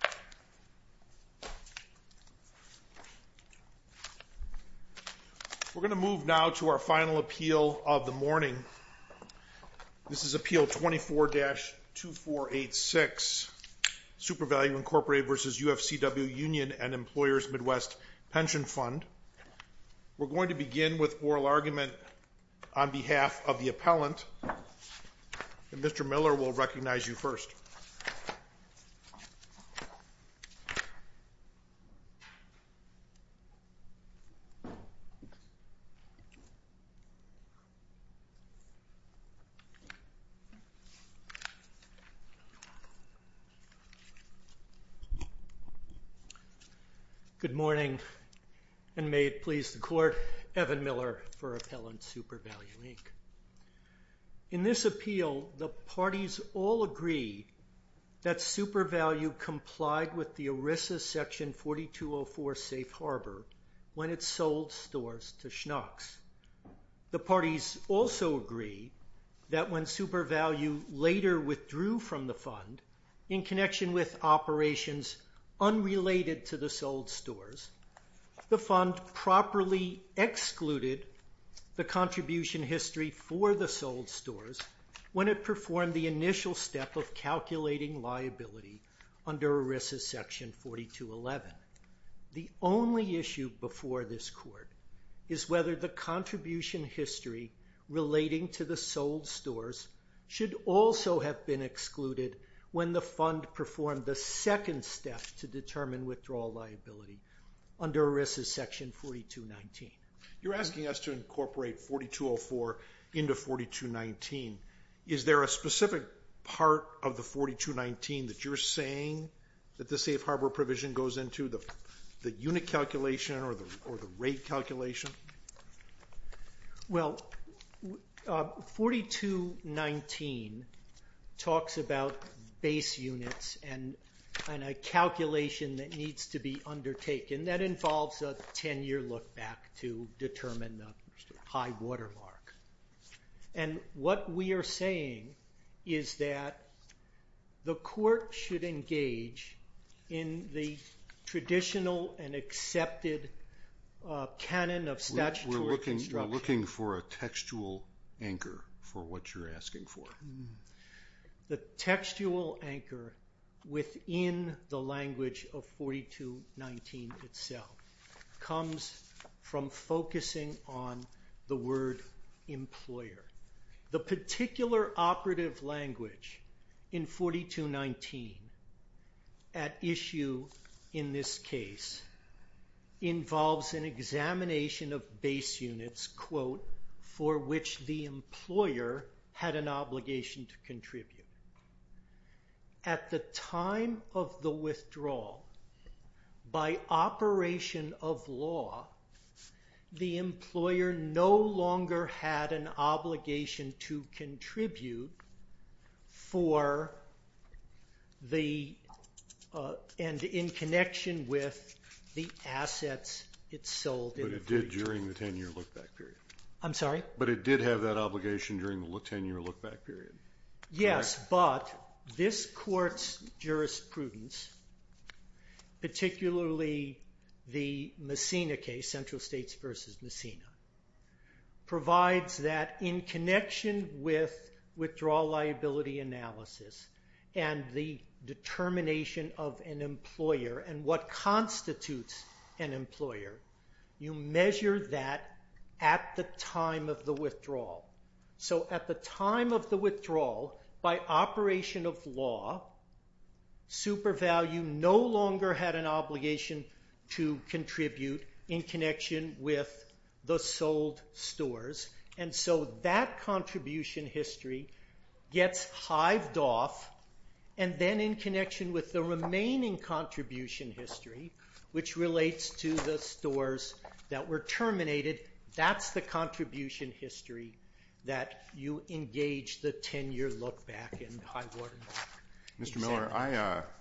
Pension Fund. We're going to begin with oral argument on behalf of the appellant, and Mr. Good morning, and may it please the court, Evan Miller for Appellant SuperValue, Inc. In this appeal, the parties all agree that SuperValue complied with the ERISA Section 4204 Safe Harbor when it sold stores to Schnucks. The parties also agree that when SuperValue later withdrew from the fund in connection with operations unrelated to the sold stores, the fund properly excluded the contribution history for the sold stores when it performed the initial step of calculating liability under ERISA Section 4211. The only issue before this court is whether the contribution history relating to the sold stores should also have been excluded when the fund performed the second step to determine withdrawal liability under ERISA Section 4219. You're asking us to incorporate 4204 into 4219. Is there a specific part of the 4219 that you're saying that the Safe Harbor provision goes into, the unit calculation or the rate calculation? Well, 4219 talks about base units and a calculation that needs to be undertaken. That involves a ten year look back to determine the high water mark. What we are saying is that the court should engage in the traditional and accepted canon of statutory construction. We're looking for a textual anchor for what you're asking for. The textual anchor within the language of 4219 itself comes from focusing on the word employer. The particular operative language in 4219 at issue in this case involves an examination of base units for which the employer had an obligation to contribute. At the time of the withdrawal, by operation of law, the employer no longer had an obligation to contribute and in connection with the assets it sold in the future. But it did during the ten year look back period? I'm sorry? But it did have that obligation during the ten year look back period? Yes, but this court's jurisprudence, particularly the Messina case, Central States v. Messina, provides that in connection with withdrawal liability analysis and the determination of an employer and what constitutes an employer, you measure that at the time of the withdrawal. So at the time of the withdrawal, by operation of law, super value no longer had an obligation to contribute in connection with the sold stores. And so that contribution history gets hived off and then in connection with the remaining contribution history, which relates to the stores that were terminated, that's the contribution history that you engage the ten year look back in Highwater. Mr. Miller,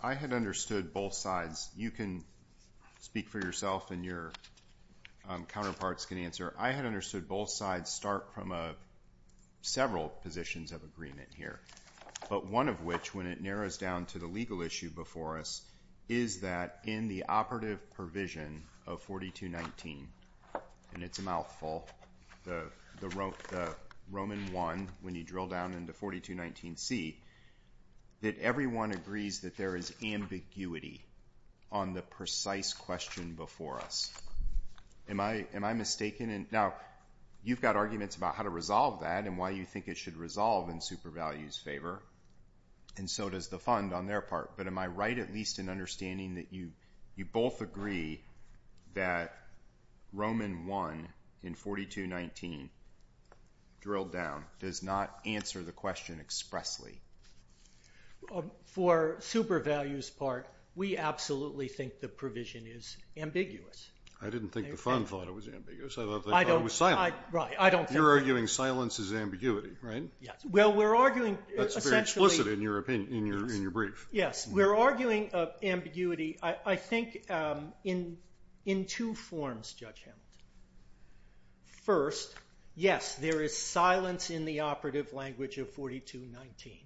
I had understood both sides. You can speak for yourself and your counterparts can answer. I had understood both sides start from several positions of agreement here. But one of which, when it narrows down to the legal issue before us, is that in the operative provision of 4219, and it's a mouthful, the Roman I, when you drill down into 4219C, that everyone agrees that there is ambiguity on the precise question before us. Am I mistaken? Now, you've got arguments about how to resolve that and why you think it should resolve in super values favor, and so does the fund on their part. But am I right at least in understanding that you both agree that Roman I in 4219 drilled down does not answer the question expressly? For super values part, we absolutely think the provision is ambiguous. I didn't think the fund thought it was ambiguous. I thought it was silent. Right, I don't think so. You're arguing silence is ambiguity, right? Yes. That's very explicit in your brief. Yes. We're arguing ambiguity, I think, in two forms, Judge Hamilton. First, yes, there is silence in the operative language of 4219.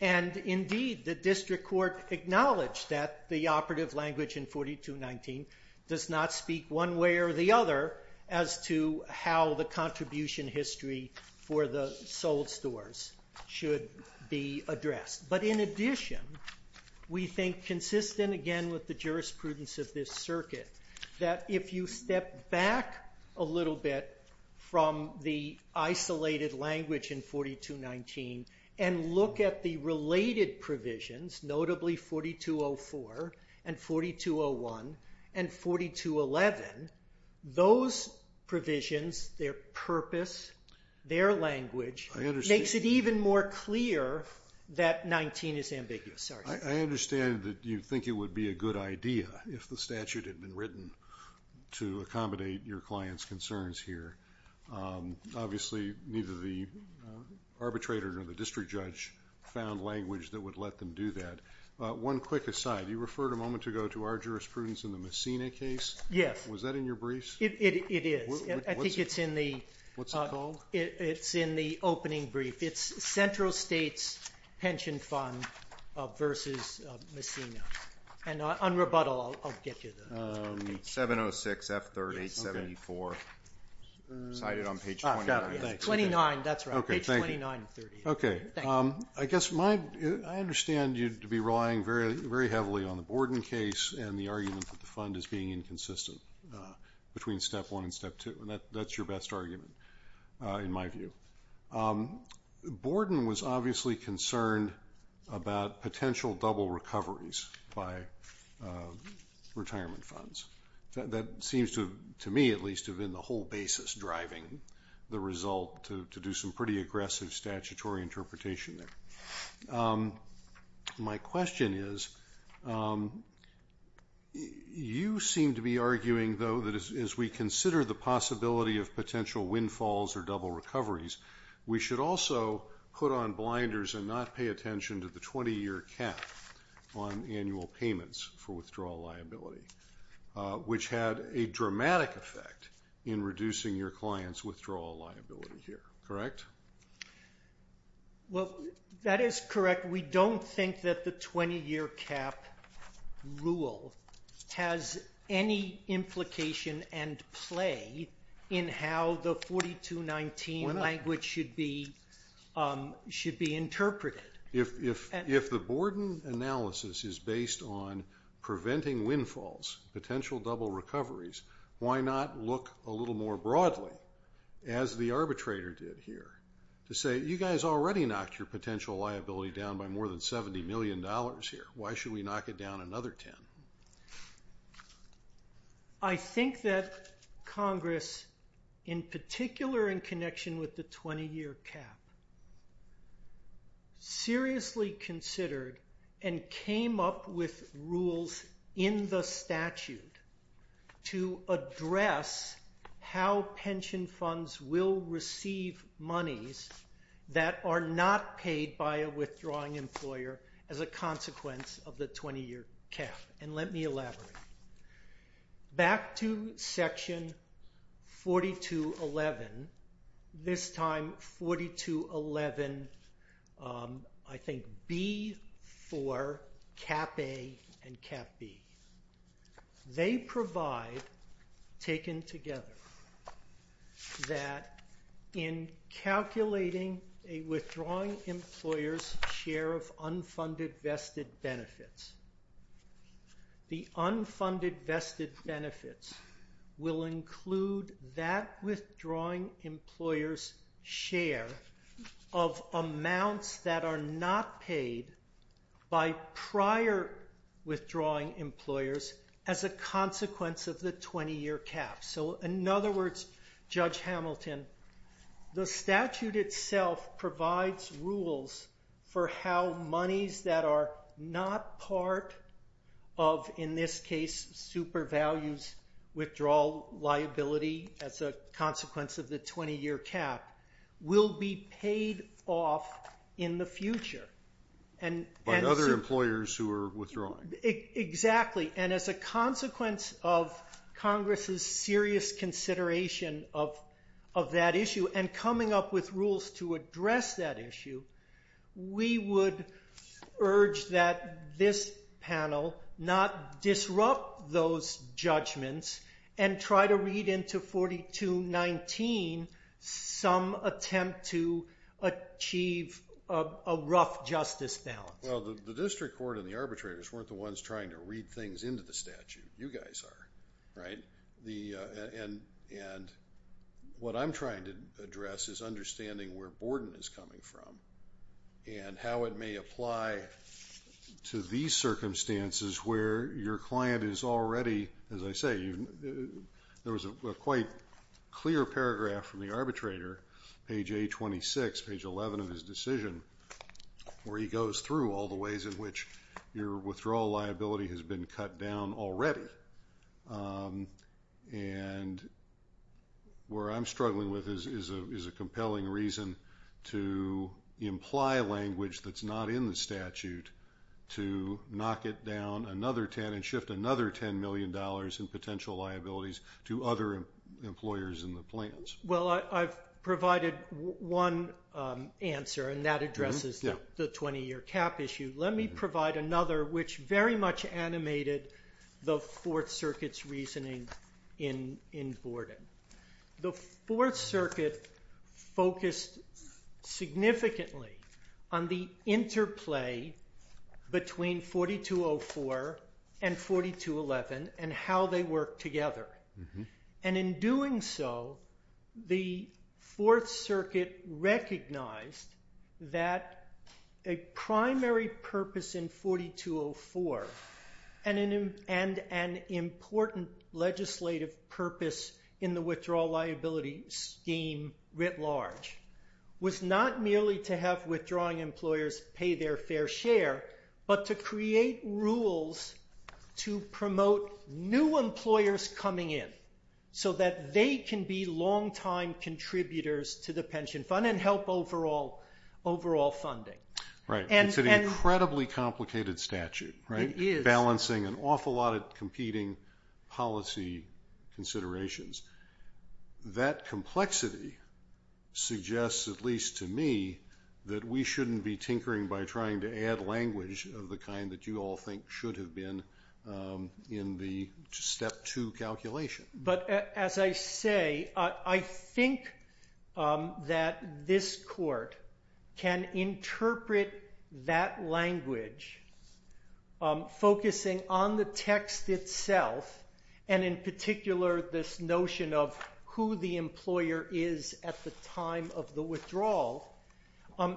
And indeed, the district court acknowledged that the operative language in 4219 does not speak one way or the other as to how the contribution history for the sold stores should be addressed. But in addition, we think consistent, again, with the jurisprudence of this circuit, that if you step back a little bit from the isolated language in 4219 and look at the related provisions, notably 4204 and 4201 and 4211, those provisions, their purpose, their language, makes it even more clear that 4219 is ambiguous. I understand that you think it would be a good idea, if the statute had been written, to accommodate your client's concerns here. Obviously, neither the arbitrator nor the district judge found language that would let them do that. One quick aside, you referred a moment ago to our jurisprudence in the Messina case. Yes. Was that in your briefs? It is. I think it's in the opening brief. It's Central States Pension Fund versus Messina. And on rebuttal, I'll get you the page. 706F3874. Cited on page 29. 29. That's right. Page 2930. Okay. I guess I understand you to be relying very heavily on the Borden case and the argument that the fund is being inconsistent between step one and step two. That's your best argument, in my view. Borden was obviously concerned about potential double recoveries by retirement funds. That seems to me, at least, to have been the whole basis driving the result, to do some pretty aggressive statutory interpretation there. My question is, you seem to be arguing, though, that as we consider the possibility of potential windfalls or double recoveries, we should also put on blinders and not pay attention to the 20-year cap on annual payments for withdrawal liability, which had a dramatic effect in reducing your client's withdrawal liability here. Correct? Well, that is correct. We don't think that the 20-year cap rule has any implication and play in how the 4219 language should be interpreted. If the Borden analysis is based on preventing windfalls, potential double recoveries, why not look a little more broadly, as the arbitrator did here, to say, you guys already knocked your potential liability down by more than $70 million here. Why should we knock it down another 10? I think that Congress, in particular in connection with the 20-year cap, seriously considered and came up with rules in the statute to address how pension funds will receive monies that are not paid by a withdrawing employer as a consequence of the 20-year cap. And let me elaborate. Back to Section 4211, this time 4211, I think, B, 4, Cap A and Cap B. They provide, taken together, that in calculating a withdrawing employer's share of unfunded vested benefits, the unfunded vested benefits will include that withdrawing employer's share of amounts that are not paid by prior withdrawing employers as a consequence of the 20-year cap. So, in other words, Judge Hamilton, the statute itself provides rules for how monies that are not part of, in this case, super values withdrawal liability as a consequence of the 20-year cap will be paid off in the future. By other employers who are withdrawing. Exactly. And as a consequence of Congress's serious consideration of that issue and coming up with rules to address that issue, we would urge that this panel not disrupt those judgments and try to read into 4219 some attempt to achieve a rough justice balance. Well, the district court and the arbitrators weren't the ones trying to read things into the statute. You guys are, right? And what I'm trying to address is understanding where Borden is coming from and how it may apply to these circumstances where your client is already, as I say, there was a quite clear paragraph from the arbitrator, page A26, page 11 of his decision, where he goes through all the ways in which your withdrawal liability has been cut down already. And where I'm struggling with is a compelling reason to imply language that's not in the statute to knock it down another 10 and shift another $10 million in potential liabilities to other employers in the plans. Well, I've provided one answer, and that addresses the 20-year cap issue. Let me provide another, which very much animated the Fourth Circuit's reasoning in Borden. The Fourth Circuit focused significantly on the interplay between 4204 and 4211 and how they work together. And in doing so, the Fourth Circuit recognized that a primary purpose in 4204 and an important legislative purpose in the withdrawal liability scheme writ large was not merely to have withdrawing employers pay their fair share, but to create rules to promote new employers coming in so that they can be long-time contributors to the pension fund and help overall funding. Right. It's an incredibly complicated statute, right? It is. Balancing an awful lot of competing policy considerations. That complexity suggests, at least to me, that we shouldn't be tinkering by trying to add language of the kind that you all think should have been in the Step 2 calculation. But as I say, I think that this court can interpret that language focusing on the text itself, and in particular this notion of who the employer is at the time of the withdrawal,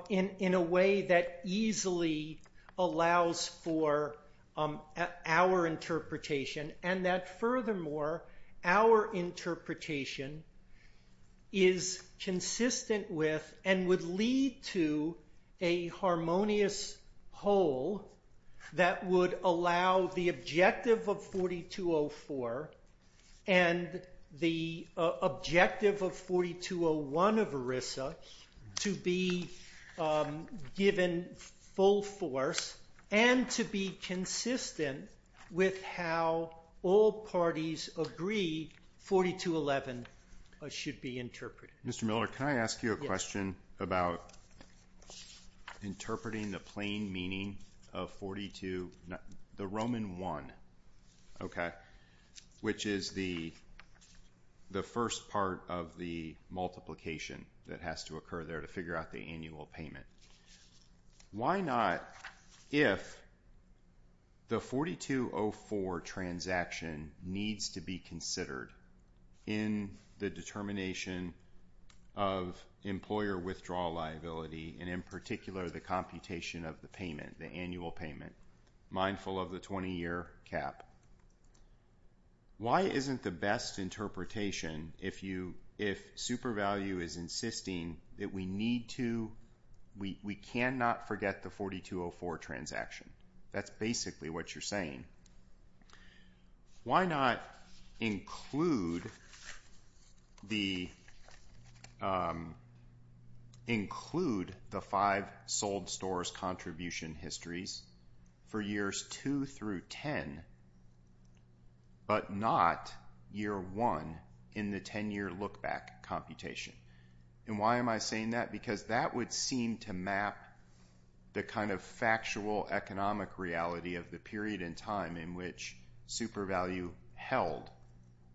in a way that easily allows for our interpretation and that, furthermore, our interpretation is consistent with and would lead to a harmonious whole that would allow the objective of 4204 and the objective of 4201 of ERISA to be given full force and to be consistent with how all parties agree 4211 should be interpreted. Mr. Miller, can I ask you a question about interpreting the plain meaning of the Roman 1, which is the first part of the multiplication that has to occur there to figure out the annual payment? Why not, if the 4204 transaction needs to be considered in the determination of employer withdrawal liability and, in particular, the computation of the payment, the annual payment, mindful of the 20-year cap, why isn't the best interpretation if super value is insisting that we need to, we cannot forget the 4204 transaction? That's basically what you're saying. Why not include the five sold stores contribution histories for years 2 through 10, but not year 1 in the 10-year look-back computation? Why am I saying that? Because that would seem to map the factual economic reality of the period in time in which super value held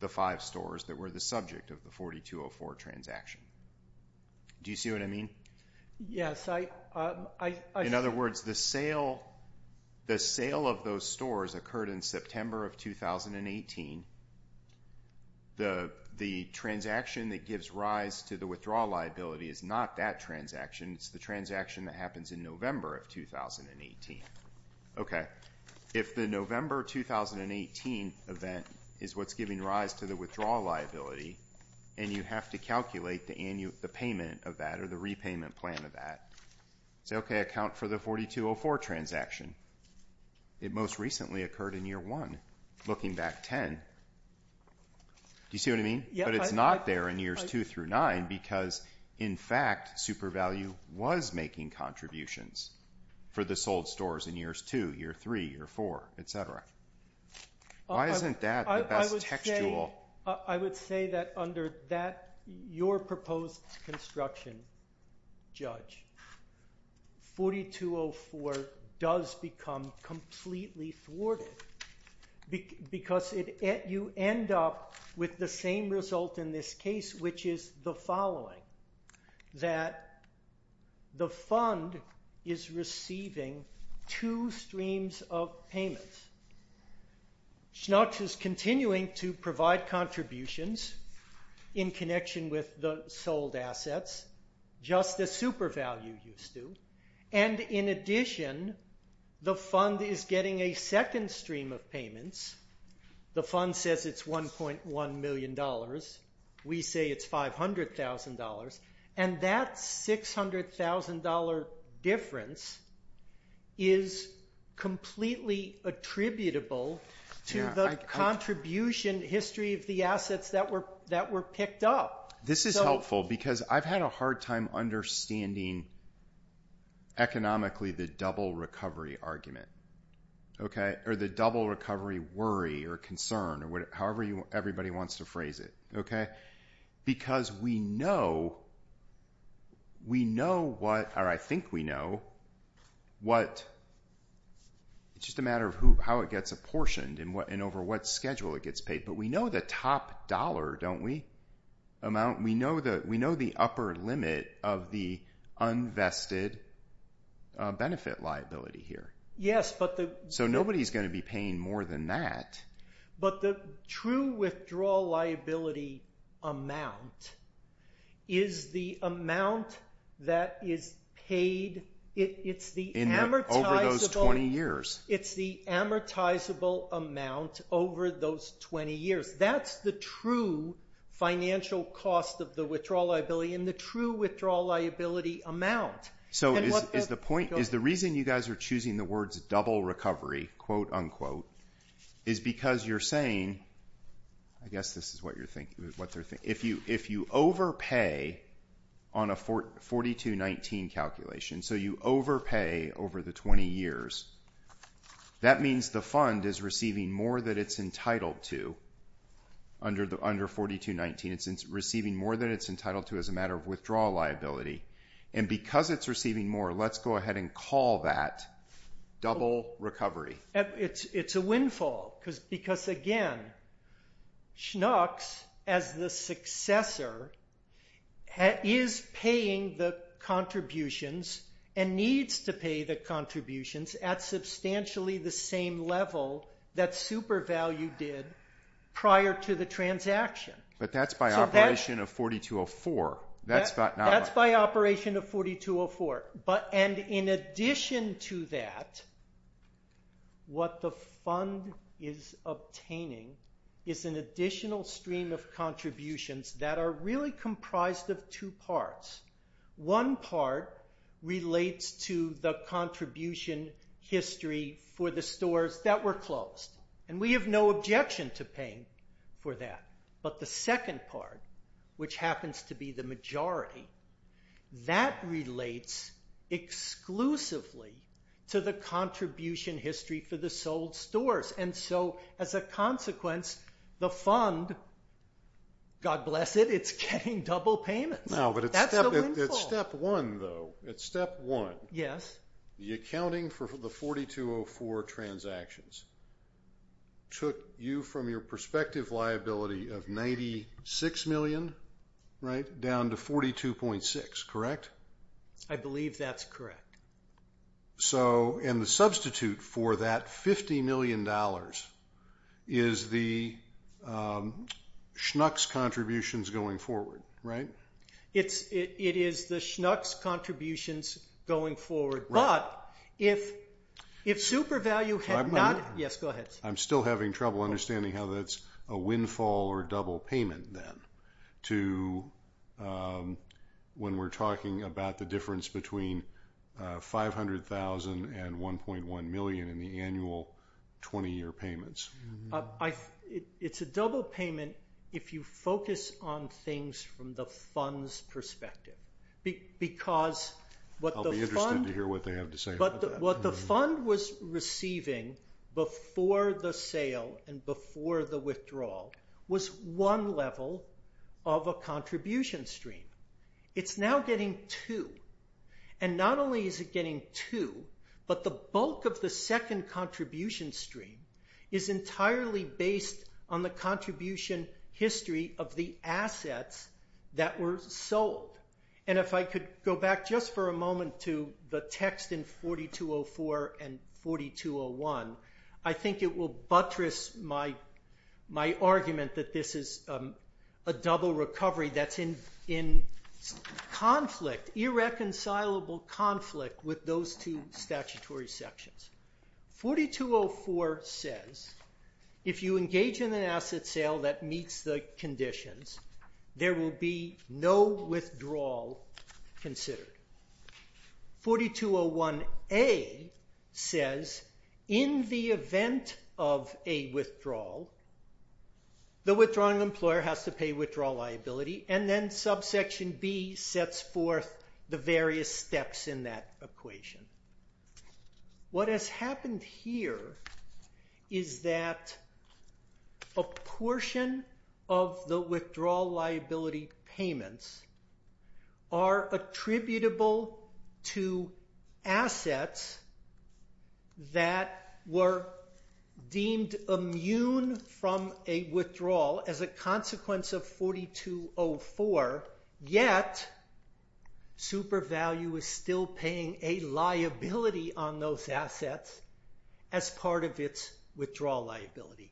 the five stores that were the subject of the 4204 transaction. Do you see what I mean? Yes. In other words, the sale of those stores occurred in September of 2018. The transaction that gives rise to the withdrawal liability is not that transaction. It's the transaction that happens in November of 2018. If the November 2018 event is what's giving rise to the withdrawal liability and you have to calculate the payment of that or the repayment plan of that, say, okay, account for the 4204 transaction. It most recently occurred in year 1. Looking back 10, do you see what I mean? But it's not there in years 2 through 9 because, in fact, super value was making contributions for the sold stores in years 2, year 3, year 4, etc. Why isn't that the best textual? I would say that under that, your proposed construction, Judge, 4204 does become completely thwarted because you end up with the same result in this case, which is the following, that the fund is receiving two streams of payments. Schnucks is continuing to provide contributions in connection with the sold assets, just as super value used to. And in addition, the fund is getting a second stream of payments. The fund says it's $1.1 million. We say it's $500,000. And that $600,000 difference is completely attributable to the contribution history of the assets that were picked up. This is helpful because I've had a hard time understanding economically the double recovery argument or the double recovery worry or concern or however everybody wants to phrase it. Because we know what, or I think we know, it's just a matter of how it gets apportioned and over what schedule it gets paid. But we know the top dollar, don't we? We know the upper limit of the unvested benefit liability here. So nobody's going to be paying more than that. But the true withdrawal liability amount is the amount that is paid. It's the amortizable. Over those 20 years. It's the amortizable amount over those 20 years. That's the true financial cost of the withdrawal liability and the true withdrawal liability amount. So is the point, is the reason you guys are choosing the words double recovery, quote unquote, is because you're saying, I guess this is what you're thinking, if you overpay on a 4219 calculation, so you overpay over the 20 years, that means the fund is receiving more than it's entitled to under 4219. It's receiving more than it's entitled to as a matter of withdrawal liability. And because it's receiving more, let's go ahead and call that double recovery. It's a windfall because, again, Schnucks, as the successor, is paying the contributions and needs to pay the contributions at substantially the same level that SuperValue did prior to the transaction. But that's by operation of 4204. That's by operation of 4204. And in addition to that, what the fund is obtaining is an additional stream of contributions that are really comprised of two parts. One part relates to the contribution history for the stores that were closed. And we have no objection to paying for that. But the second part, which happens to be the majority, that relates exclusively to the contribution history for the sold stores. And so, as a consequence, the fund, God bless it, it's getting double payments. That's the windfall. It's step one, though. It's step one. Yes. The accounting for the 4204 transactions took you from your prospective liability of $96 million down to $42.6 million, correct? I believe that's correct. And the substitute for that $50 million is the Schnucks contributions going forward, right? It is the Schnucks contributions going forward. But if super value had not been – yes, go ahead. I'm still having trouble understanding how that's a windfall or double payment then to when we're talking about the difference between $500,000 and $1.1 million in the annual 20-year payments. It's a double payment if you focus on things from the fund's perspective. Because what the fund – I'll be interested to hear what they have to say about that. What the fund was receiving before the sale and before the withdrawal was one level of a contribution stream. It's now getting two. And not only is it getting two, but the bulk of the second contribution stream is entirely based on the contribution history of the assets that were sold. And if I could go back just for a moment to the text in 4204 and 4201, I think it will buttress my argument that this is a double recovery that's in conflict, irreconcilable conflict with those two statutory sections. 4204 says if you engage in an asset sale that meets the conditions, there will be no withdrawal considered. 4201A says in the event of a withdrawal, the withdrawing employer has to pay withdrawal liability, and then subsection B sets forth the various steps in that equation. What has happened here is that a portion of the withdrawal liability payments are attributable to assets that were deemed immune from a withdrawal as a consequence of 4204, yet SuperValue is still paying a liability on those assets as part of its withdrawal liability.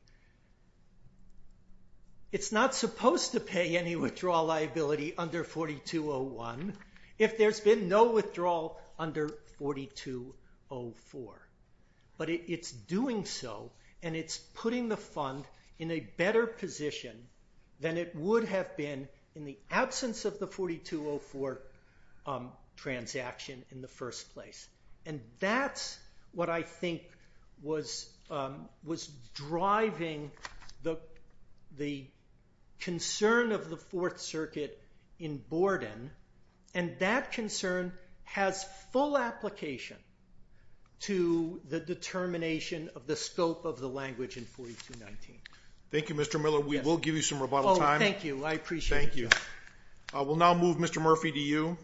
It's not supposed to pay any withdrawal liability under 4201 if there's been no withdrawal under 4204. But it's doing so, and it's putting the fund in a better position than it would have been in the absence of the 4204 transaction in the first place. And that's what I think was driving the concern of the Fourth Circuit in Borden, and that concern has full application to the determination of the scope of the language in 4219. Thank you, Mr. Miller. We will give you some rebuttal time. Oh, thank you. I appreciate it. Thank you. We'll now move Mr. Murphy to you.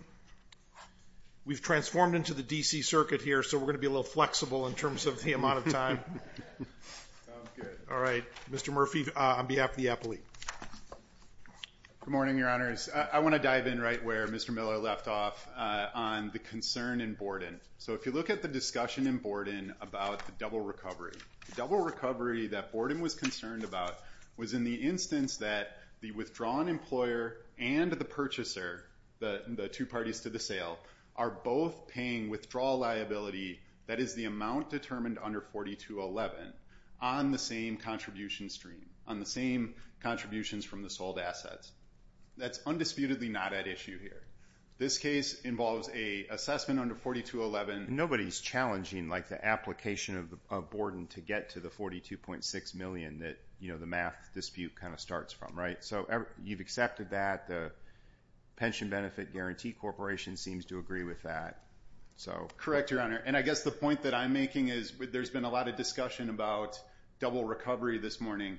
We've transformed into the D.C. Circuit here, so we're going to be a little flexible in terms of the amount of time. Sounds good. All right. Mr. Murphy, on behalf of the appellee. Good morning, Your Honors. I want to dive in right where Mr. Miller left off on the concern in Borden. So if you look at the discussion in Borden about the double recovery, the double recovery that Borden was concerned about was in the instance that the withdrawn employer and the purchaser, the two parties to the sale, are both paying withdrawal liability, that is the amount determined under 4211, on the same contribution stream, on the same contributions from the sold assets. That's undisputedly not at issue here. This case involves an assessment under 4211. Nobody's challenging, like, the application of Borden to get to the $42.6 million that, you know, the math dispute kind of starts from, right? So you've accepted that. The Pension Benefit Guarantee Corporation seems to agree with that. Correct, Your Honor. And I guess the point that I'm making is there's been a lot of discussion about double recovery this morning.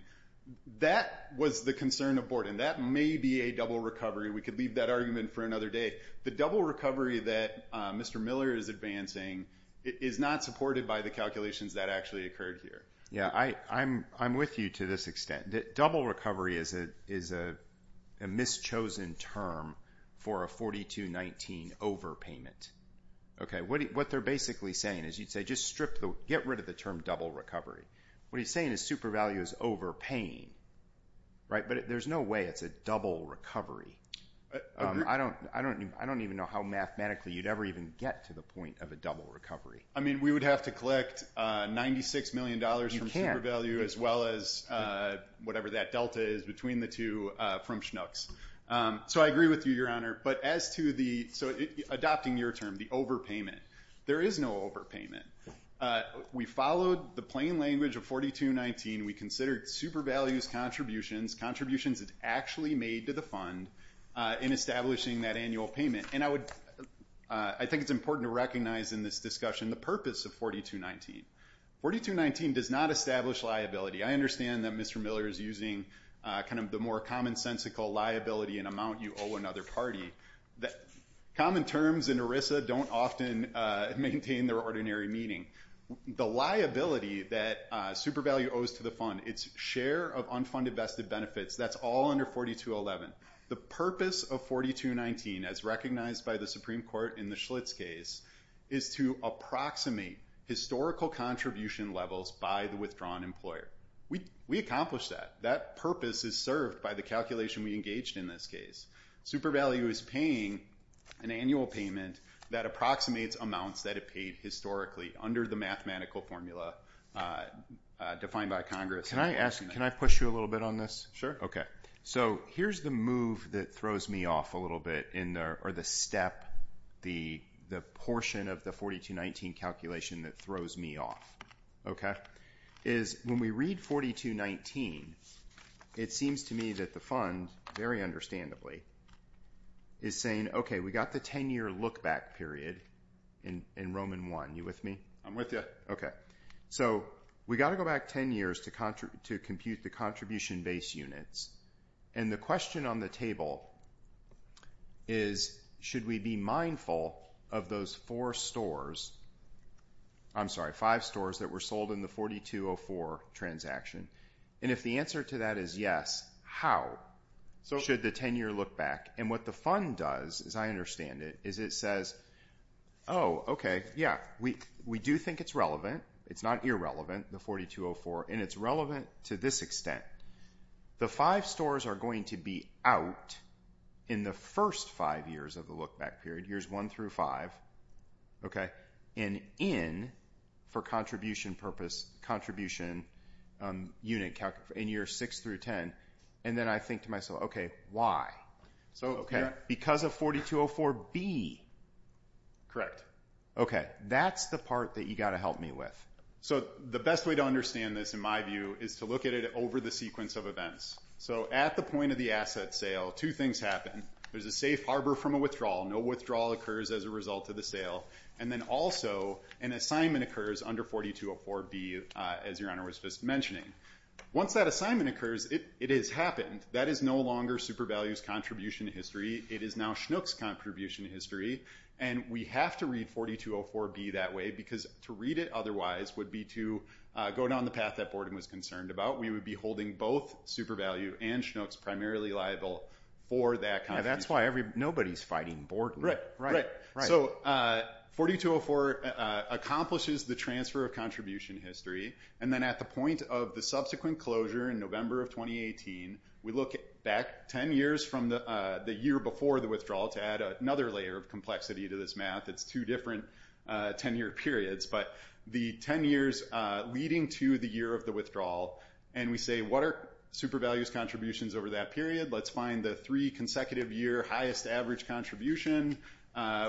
That was the concern of Borden. That may be a double recovery. We could leave that argument for another day. The double recovery that Mr. Miller is advancing is not supported by the calculations that actually occurred here. I'm with you to this extent. Double recovery is a mischosen term for a 4219 overpayment. Okay. What they're basically saying is you'd say, just get rid of the term double recovery. What he's saying is super value is overpaying, right? But there's no way it's a double recovery. I don't even know how mathematically you'd ever even get to the point of a double recovery. I mean, we would have to collect $96 million from super value as well as whatever that delta is between the two from Schnucks. So I agree with you, Your Honor. But as to the, so adopting your term, the overpayment, there is no overpayment. We followed the plain language of 4219. We considered super values contributions, contributions that's actually made to the fund in establishing that annual payment. And I would, I think it's important to recognize in this discussion, the purpose of 4219. 4219 does not establish liability. I understand that Mr. Miller is using kind of the more commonsensical liability and amount you owe another party. Common terms in ERISA don't often maintain their ordinary meaning. The liability that super value owes to the fund, it's share of unfunded vested benefits. That's all under 4211. The purpose of 4219 as recognized by the Supreme Court in the Schlitz case is to approximate historical contribution levels by the withdrawn employer. We accomplished that. That purpose is served by the calculation we engaged in this case. Super value is paying an annual payment that approximates amounts that it made historically under the mathematical formula defined by Congress. Can I ask, can I push you a little bit on this? Okay. So here's the move that throws me off a little bit in there or the step, the portion of the 4219 calculation that throws me off. Okay. Is when we read 4219, it seems to me that the fund very understandably is saying, okay, we got the 10 year look back period in Roman one. You with me? I'm with you. Okay. So we got to go back 10 years to contribute to compute the contribution base units. And the question on the table is, should we be mindful of those four stores? I'm sorry, five stores that were sold in the 4204 transaction. And if the answer to that is yes, how so should the 10 year look back? And what the fund does is I understand it is it says, oh, okay. Yeah. We, we do think it's relevant. It's not irrelevant. The 4204 and it's relevant to this extent. The five stores are going to be out in the first five years of the look back period. Here's one through five. Okay. And in for contribution purpose, contribution unit in year six through 10. And then I think to myself, okay, why? So, okay. Because of 4204 B. Correct. Okay. That's the part that you got to help me with. So the best way to understand this, in my view is to look at it over the sequence of events. So at the point of the asset sale, two things happen. There's a safe Harbor from a withdrawal. No withdrawal occurs as a result of the sale. And then also an assignment occurs under 4204 B as your honor was just mentioning. Once that assignment occurs, it, it has happened. That is no longer super values contribution history. It is now schnooks contribution history. And we have to read 4204 B that way, because to read it otherwise would be to go down the path that Borden was concerned about. We would be holding both super value and schnooks primarily liable for that. That's why every nobody's fighting board. Right. Right. Right. So 4204 accomplishes the transfer of contribution history. And then at the point of the subsequent closure in November of 2018, we look at back 10 years from the, the year before the withdrawal to add another layer of complexity to this math. It's two different 10 year periods, but the 10 years leading to the year of the withdrawal. And we say, what are super values contributions over that period? Let's find the three consecutive year highest average contribution.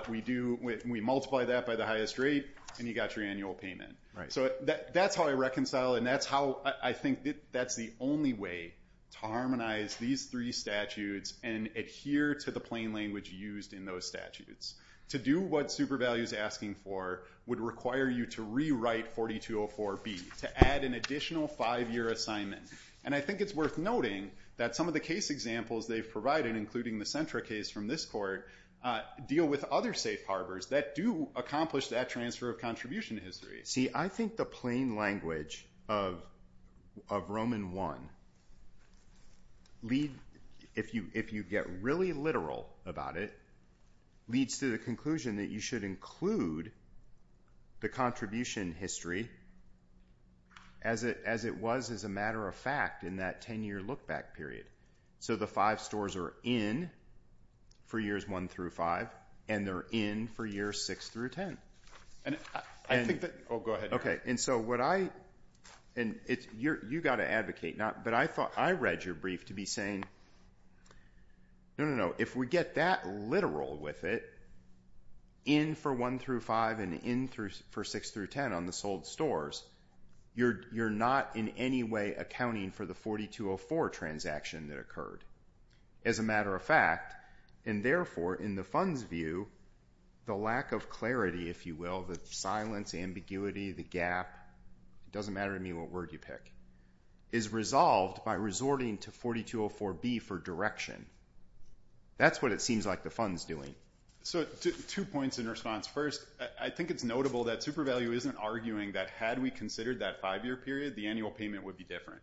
We do with, we multiply that by the highest rate and you got your annual payment. Right. So that that's how I reconcile. And that's how I think that that's the only way to harmonize these three statutes and adhere to the plain language used in those statutes to do what super values asking for would require you to rewrite 4204 B to add an additional five year assignment. And I think it's worth noting that some of the case examples they've provided, including the central case from this court, deal with other safe harbors that do accomplish that transfer of contribution history. See, I think the plain language of, of Roman one lead if you, if you get really literal about it leads to the conclusion that you should include the contribution history as it, as it was as a matter of fact, in that 10 year look back period. So the five stores are in four years, one through five, and they're in for year six through 10. And I think that, Oh, go ahead. Okay. And so what I, and it's, you're, you got to advocate not, but I thought I read your brief to be saying, no, no, no. If we get that literal with it in for one through five and in through for six through 10 on the sold stores, you're, you're not in any way accounting for the 4204 transaction that occurred as a matter of fact, and therefore in the funds view, the lack of clarity, if you will, the silence ambiguity, the gap, it doesn't matter to me. What word you pick is resolved by resorting to 4204 B for direction. That's what it seems like the funds doing. So two points in response. First, I think it's notable that super value isn't arguing that had we considered that five year period, the annual payment would be different.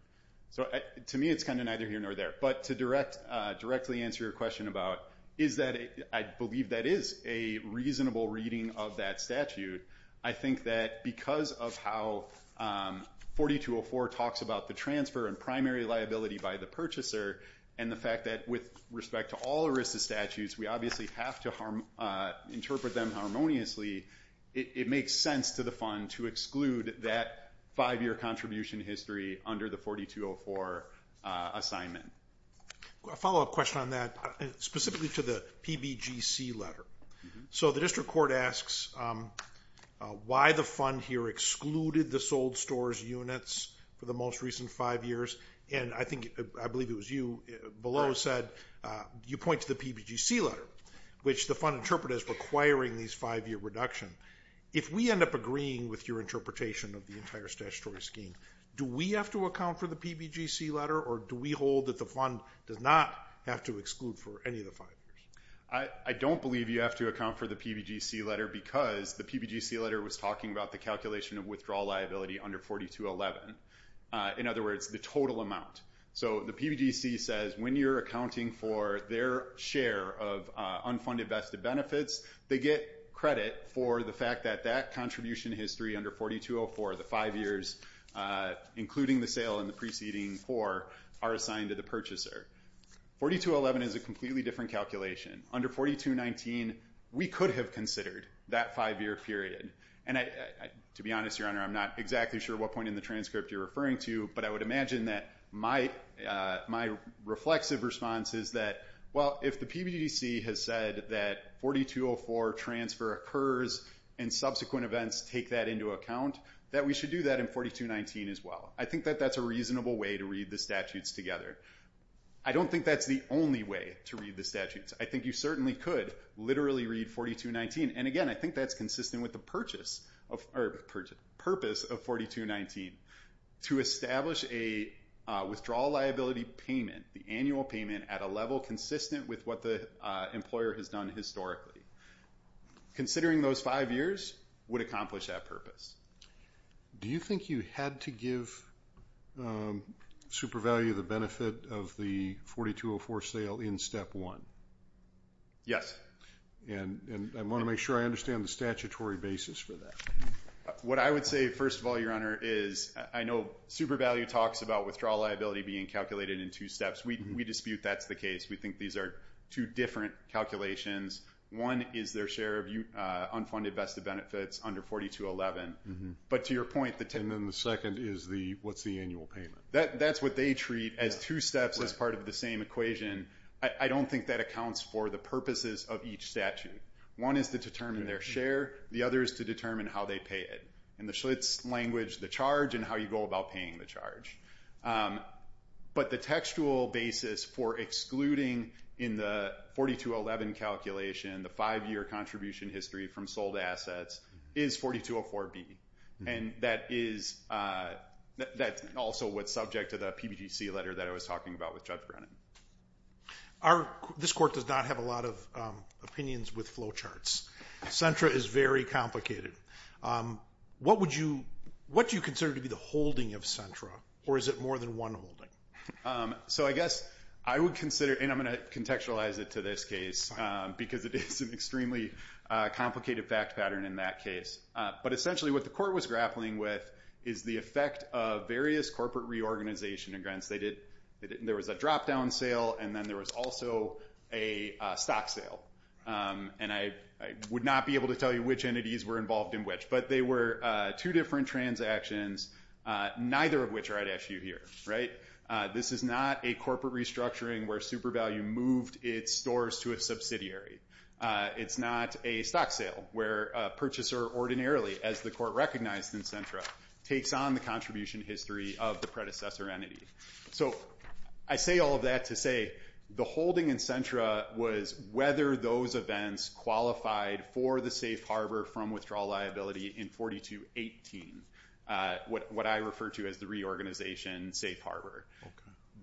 So to me, it's kind of neither here nor there, but to direct, directly answer your question about is that I believe that is a reasonable reading of that statute. I think that because of how 4204 talks about the transfer and primary liability by the purchaser. And the fact that with respect to all the risks of statutes, we obviously have to harm interpret them harmoniously. It makes sense to the fund to exclude that five-year contribution history under the 4204 assignment. A follow-up question on that specifically to the PBGC letter. So the district court asks why the fund here excluded the sold stores units for the most recent five years. And I think, I believe it was you below said, you point to the PBGC letter, which the fund interpret as requiring these five-year reduction. If we end up agreeing with your interpretation of the entire statutory scheme, do we have to account for the PBGC letter? Or do we hold that the fund does not have to exclude for any of the five years? I don't believe you have to account for the PBGC letter because the PBGC letter was talking about the calculation of withdrawal liability under 4211. In other words, the total amount. So the PBGC says, when you're accounting for their share of unfunded vested benefits, they get credit for the fact that that contribution history under 4204, the five years, including the sale and the preceding four, are assigned to the purchaser. 4211 is a completely different calculation. Under 4219, we could have considered that five-year period. And to be honest, your honor, I'm not exactly sure what point in the transcript you're referring to, but I would imagine that my reflexive response is that, well, if the PBGC has said that 4204 transfer occurs and subsequent events take that into account, that we should do that in 4219 as well. I think that that's a reasonable way to read the statutes together. I don't think that's the only way to read the statutes. I think you certainly could literally read 4219. And again, I think that's consistent with the purpose of 4219, to establish a withdrawal liability payment, the annual payment at a level consistent with what the employer has done historically. Considering those five years would accomplish that purpose. Do you think you had to give SuperValue the benefit of the 4204 sale in step one? Yes. And I want to make sure I understand the statutory basis for that. What I would say, first of all, your honor, is I know SuperValue talks about withdrawal liability being calculated in two steps. We dispute that's the case. We think these are two different calculations. One is their share of unfunded vested benefits under 4211. But to your point, And then the second is what's the annual payment. That's what they treat as two steps as part of the same equation. I don't think that accounts for the purposes of each statute. One is to determine their share. The other is to determine how they pay it. In the Schlitz language, the charge and how you go about paying the charge. But the textual basis for excluding in the 4211 calculation, the five-year contribution history from sold assets is 4204B. And that's also what's subject to the PBGC letter that I was talking about with Judge Brennan. This court does not have a lot of opinions with flow charts. SENTRA is very complicated. What do you consider to be the holding of SENTRA? Or is it more than one holding? So I guess I would consider, and I'm going to contextualize it to this case because it is an extremely complicated fact pattern in that case. But essentially what the court was grappling with is the effect of various corporate reorganization in Grants. There was a drop-down sale and then there was also a stock sale. And I would not be able to tell you which entities were involved in which, but they were two different transactions, neither of which are at issue here. This is not a corporate restructuring where SuperValue moved its stores to a subsidiary. It's not a stock sale where a purchaser ordinarily, as the court recognized in SENTRA, takes on the contribution history of the predecessor entity. So I say all of that to say the holding in SENTRA was whether those events qualified for the safe harbor from withdrawal liability in 4218, what I refer to as the reorganization safe harbor.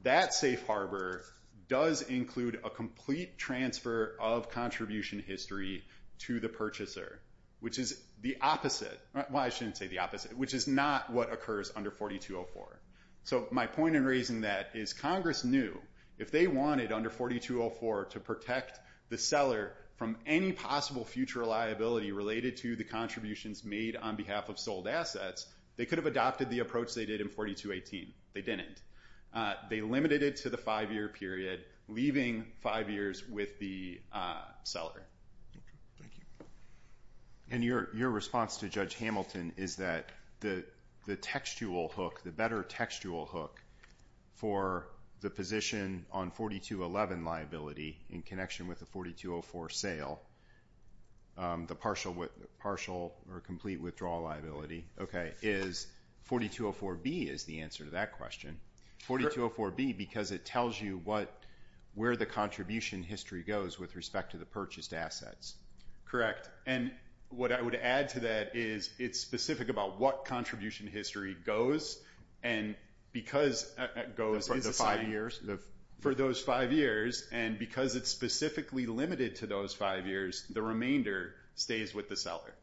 That safe harbor does include a complete transfer of contribution history to the purchaser, which is the opposite. Well, I shouldn't say the opposite, which is not what occurs under 4204. So my point in raising that is Congress knew if they wanted under 4204 to protect the seller from any possible future liability related to the contributions made on behalf of sold assets, they could have adopted the approach they did in 4218. They didn't. They limited it to the five-year period, leaving five years with the seller. Thank you. And your response to Judge Hamilton is that the textual hook, the better textual hook for the position on 4211 liability in connection with the 4204 sale, the partial or complete withdrawal liability, is 4204B is the answer to that question. 4204B because it tells you where the contribution history goes with respect to the purchased assets. Correct. And what I would add to that is it's specific about what contribution history goes and because it goes... For the five years? For those five years. And because it's specifically limited to those five years, the remainder stays with the seller.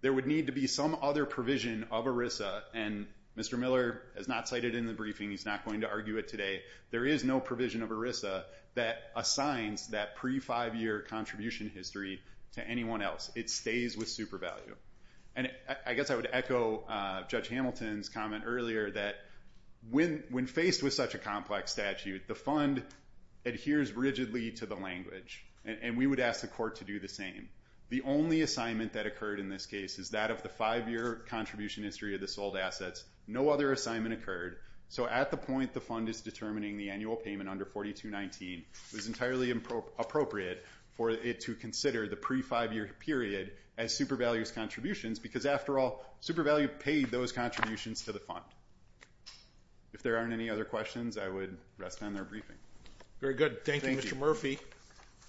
There would need to be some other provision of ERISA, and Mr. Miller has not cited it in the briefing. He's not going to argue it today. There is no provision of ERISA that assigns that pre-five-year contribution history to anyone else. It stays with super value. And I guess I would echo Judge Hamilton's comment earlier that when faced with such a complex statute, the fund adheres rigidly to the language, and we would ask the court to do the same. The only assignment that occurred in this case is that of the five-year contribution history of the sold assets. No other assignment occurred. So at the point the fund is determining the annual payment under 4219, it was entirely appropriate for it to consider the pre-five-year period as super value's contributions, because after all, super value paid those contributions to the fund. If there aren't any other questions, I would rest on their briefing. Very good. Thank you, Mr. Murphy.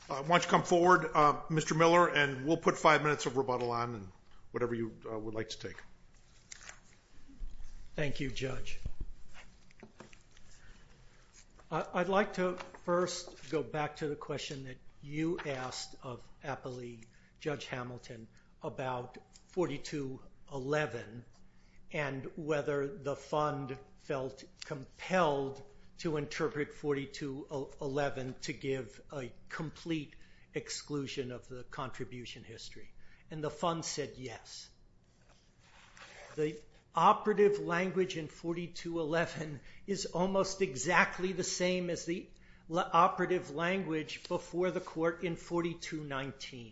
Why don't you come forward, Mr. Miller, and we'll put five minutes of rebuttal on, and whatever you would like to take. Thank you, Judge. I'd like to first go back to the question that you asked of APA League, Judge Hamilton, about 4211, and whether the fund felt compelled to interpret 4211 to give a complete exclusion of the contribution history. And the fund said yes. The operative language in 4211 is almost exactly the same as the operative language before the court in 4219.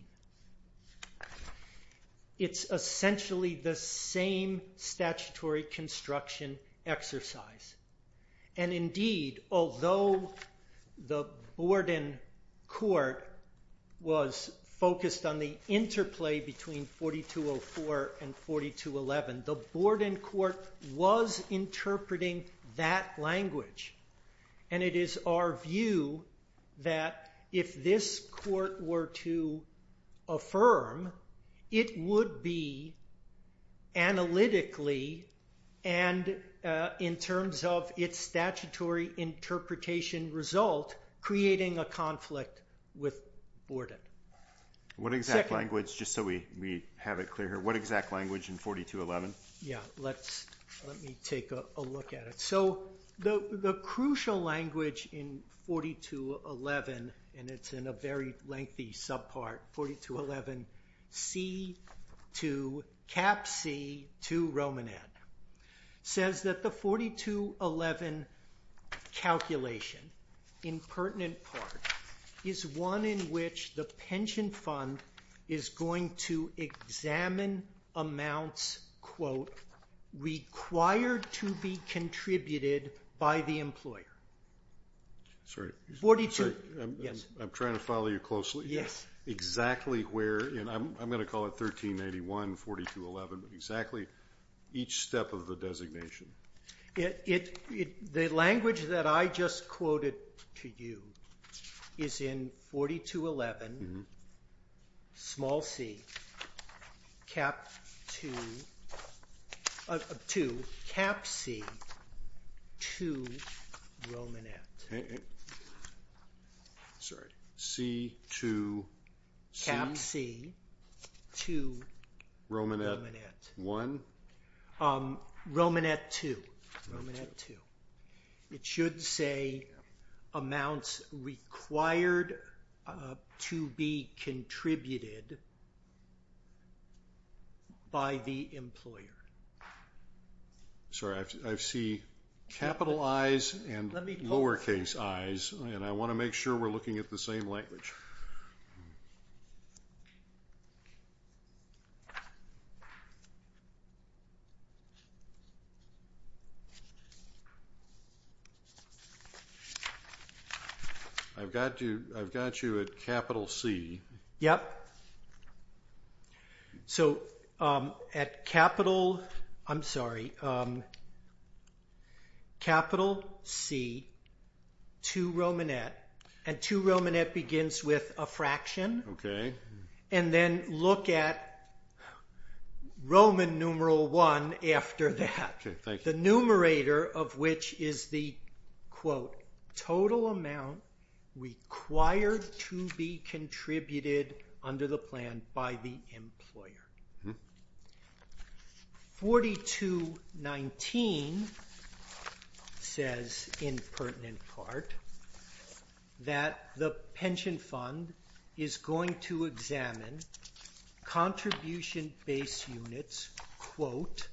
It's essentially the same statutory construction exercise. And indeed, although the Borden court was focused on the interplay between 4204 and 4211, the Borden court was interpreting that language, and it is our view that if this court were to affirm, it would be analytically and in terms of its statutory interpretation result creating a conflict with Borden. What exact language, just so we have it clear here, what exact language in 4211? Yeah, let me take a look at it. So the crucial language in 4211, and it's in a very lengthy subpart, 4211, C to, cap C, to Roman ad, says that the 4211 calculation in pertinent part is one in which the pension fund is going to examine amounts, quote, required to be contributed by the employer. Forty-two. Yes. I'm trying to follow you closely. Yes. Exactly where, and I'm going to call it 1381, 4211, but exactly each step of the designation. The language that I just quoted to you is in 4211, small c, cap 2, of 2, cap C, to Roman ad. Sorry, C to C. Cap C, to Roman ad. Roman ad 1. Roman ad 2. Roman ad 2. It should say amounts required to be contributed by the employer. Sorry, I see capital I's and lowercase i's, and I want to make sure we're looking at the same language. I've got you at capital C. Yes. So at capital, I'm sorry, capital C, to Roman ad, and to Roman ad begins with a fraction. Okay. And then look at Roman numeral 1 after that. Okay, thank you. The numerator of which is the, quote, total amount required to be contributed under the plan by the employer. 4219 says, in pertinent part, that the pension fund is going to examine contribution-based units, quote,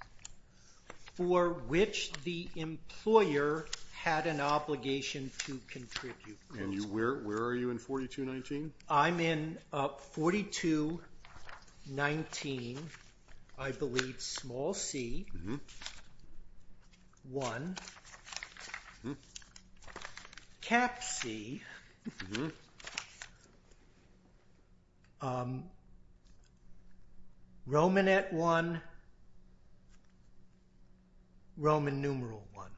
for which the employer had an obligation to contribute. And where are you in 4219? I'm in 4219, I believe, small c, 1. Cap C, Roman ad 1, Roman numeral 1.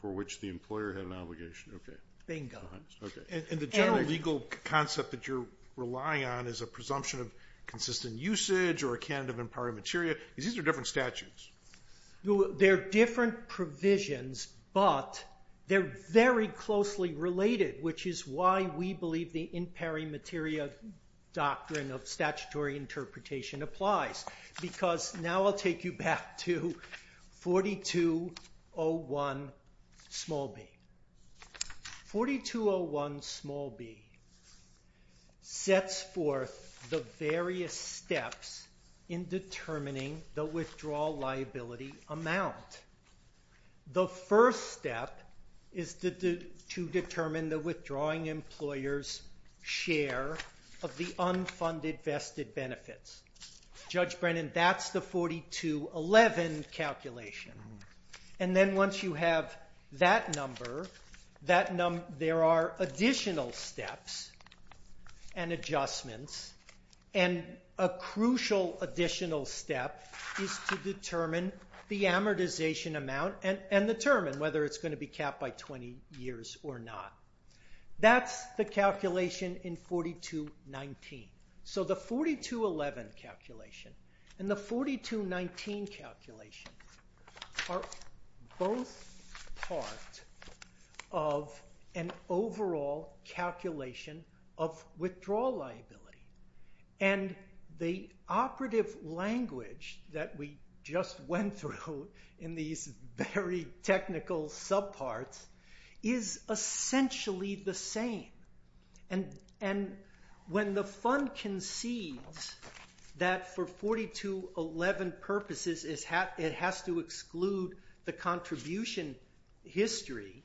For which the employer had an obligation. Okay. Bingo. Okay. And the general legal concept that you're relying on is a presumption of consistent usage or a canon of in pari materia, because these are different statutes. They're different provisions, but they're very closely related, which is why we believe the in pari materia doctrine of statutory interpretation applies, because now I'll take you back to 4201, small b. 4201, small b, sets forth the various steps in determining the withdrawal liability amount. The first step is to determine the withdrawing employer's share of the unfunded vested benefits. Judge Brennan, that's the 4211 calculation. And then once you have that number, there are additional steps and adjustments, and a crucial additional step is to determine the amortization amount and determine whether it's going to be capped by 20 years or not. That's the calculation in 4219. So the 4211 calculation and the 4219 calculation are both part of an overall calculation of withdrawal liability. And the operative language that we just went through in these very technical subparts is essentially the same. And when the fund concedes that for 4211 purposes it has to exclude the contribution history,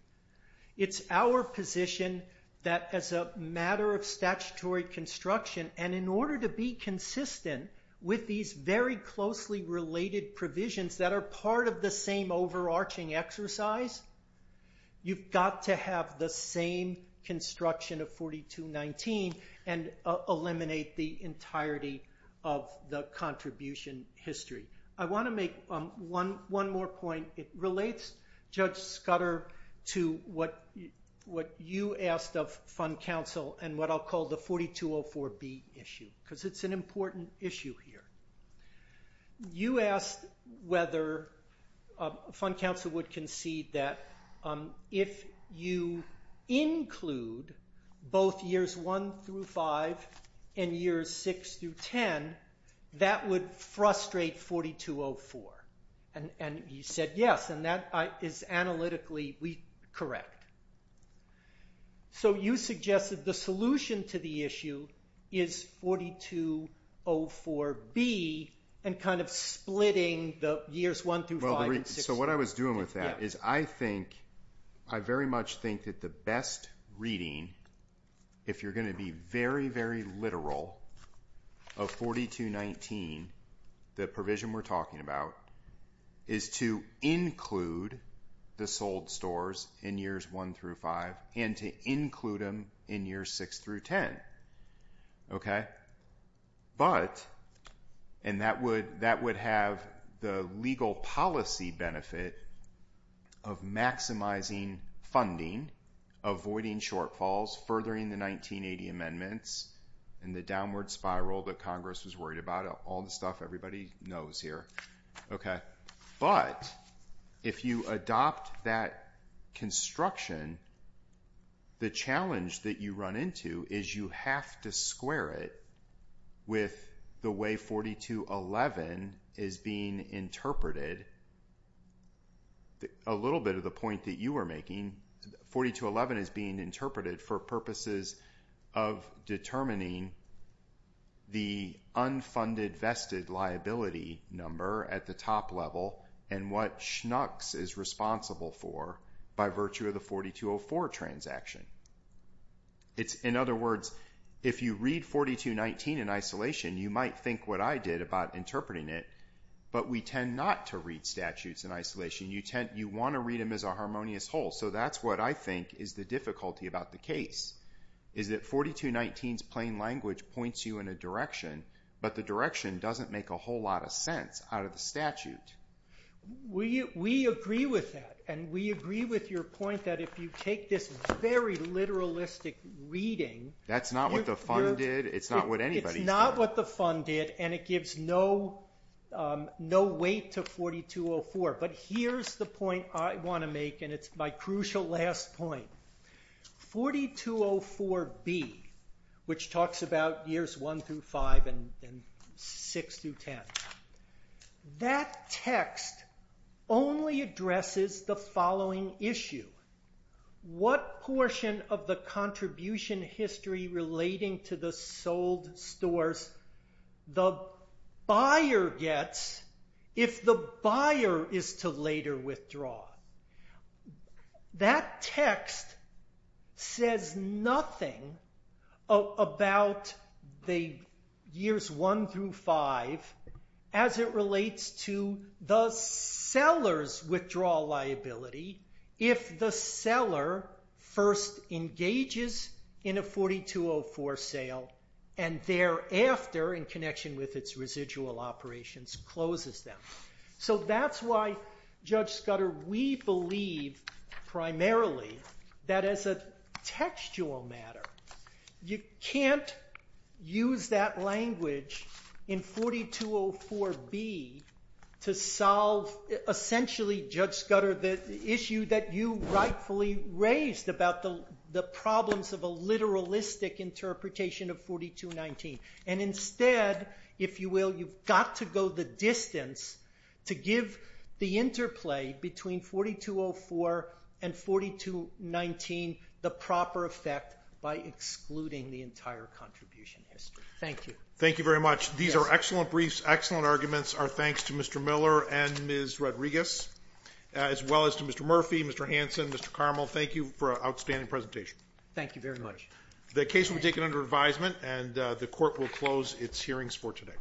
it's our position that as a matter of statutory construction, and in order to be consistent with these very closely related provisions that are part of the same overarching exercise, you've got to have the same construction of 4219 and eliminate the entirety of the contribution history. I want to make one more point. It relates, Judge Scudder, to what you asked of Fund Council and what I'll call the 4204B issue, because it's an important issue here. You asked whether Fund Council would concede that if you include both years 1 through 5 and years 6 through 10, that would frustrate 4204. And you said yes, and that is analytically correct. So you suggested the solution to the issue is 4204B and kind of splitting the years 1 through 5 and 6 through 10. So what I was doing with that is I very much think that the best reading, if you're going to be very, very literal, of 4219, the provision we're And to include them in years 6 through 10. But, and that would have the legal policy benefit of maximizing funding, avoiding shortfalls, furthering the 1980 amendments, and the downward spiral that Congress was worried about, all the stuff everybody knows here. But if you adopt that construction, the challenge that you run into is you have to square it with the way 4211 is being interpreted. A little bit of the point that you were making, 4211 is being interpreted for purposes of determining the unfunded vested liability number at the top level and what SHNUCS is responsible for by virtue of the 4204 transaction. In other words, if you read 4219 in isolation, you might think what I did about interpreting it, but we tend not to read statutes in isolation. You want to read them as a harmonious whole. So that's what I think is the difficulty about the case, is that 4219's plain language points you in a direction, but the direction doesn't make a whole lot of sense out of the statute. We agree with that, and we agree with your point that if you take this very literalistic reading... That's not what the fund did, it's not what anybody's doing. It's not what the fund did, and it gives no weight to 4204. But here's the point I want to make, and it's my crucial last point. 4204B, which talks about years 1 through 5 and 6 through 10, that text only addresses the following issue. What portion of the contribution history relating to the sold stores the buyer gets if the buyer is to later withdraw? That text says nothing about the years 1 through 5 as it relates to the seller's withdrawal liability if the seller first engages in a 4204 sale and thereafter, in connection with its residual operations, closes them. So that's why, Judge Scudder, we believe primarily that as a textual matter you can't use that language in 4204B to solve essentially, Judge Scudder, the issue that you rightfully raised about the problems of a literalistic interpretation of 4219. And instead, if you will, you've got to go the distance to give the interplay between 4204 and 4219 the proper effect by excluding the entire contribution history. Thank you. Thank you very much. These are excellent briefs, excellent arguments. Our thanks to Mr. Miller and Ms. Rodriguez, as well as to Mr. Murphy, Mr. Hanson, Mr. Carmel. Thank you for an outstanding presentation. Thank you very much. The case will be taken under advisement, and the Court will close its hearings for today.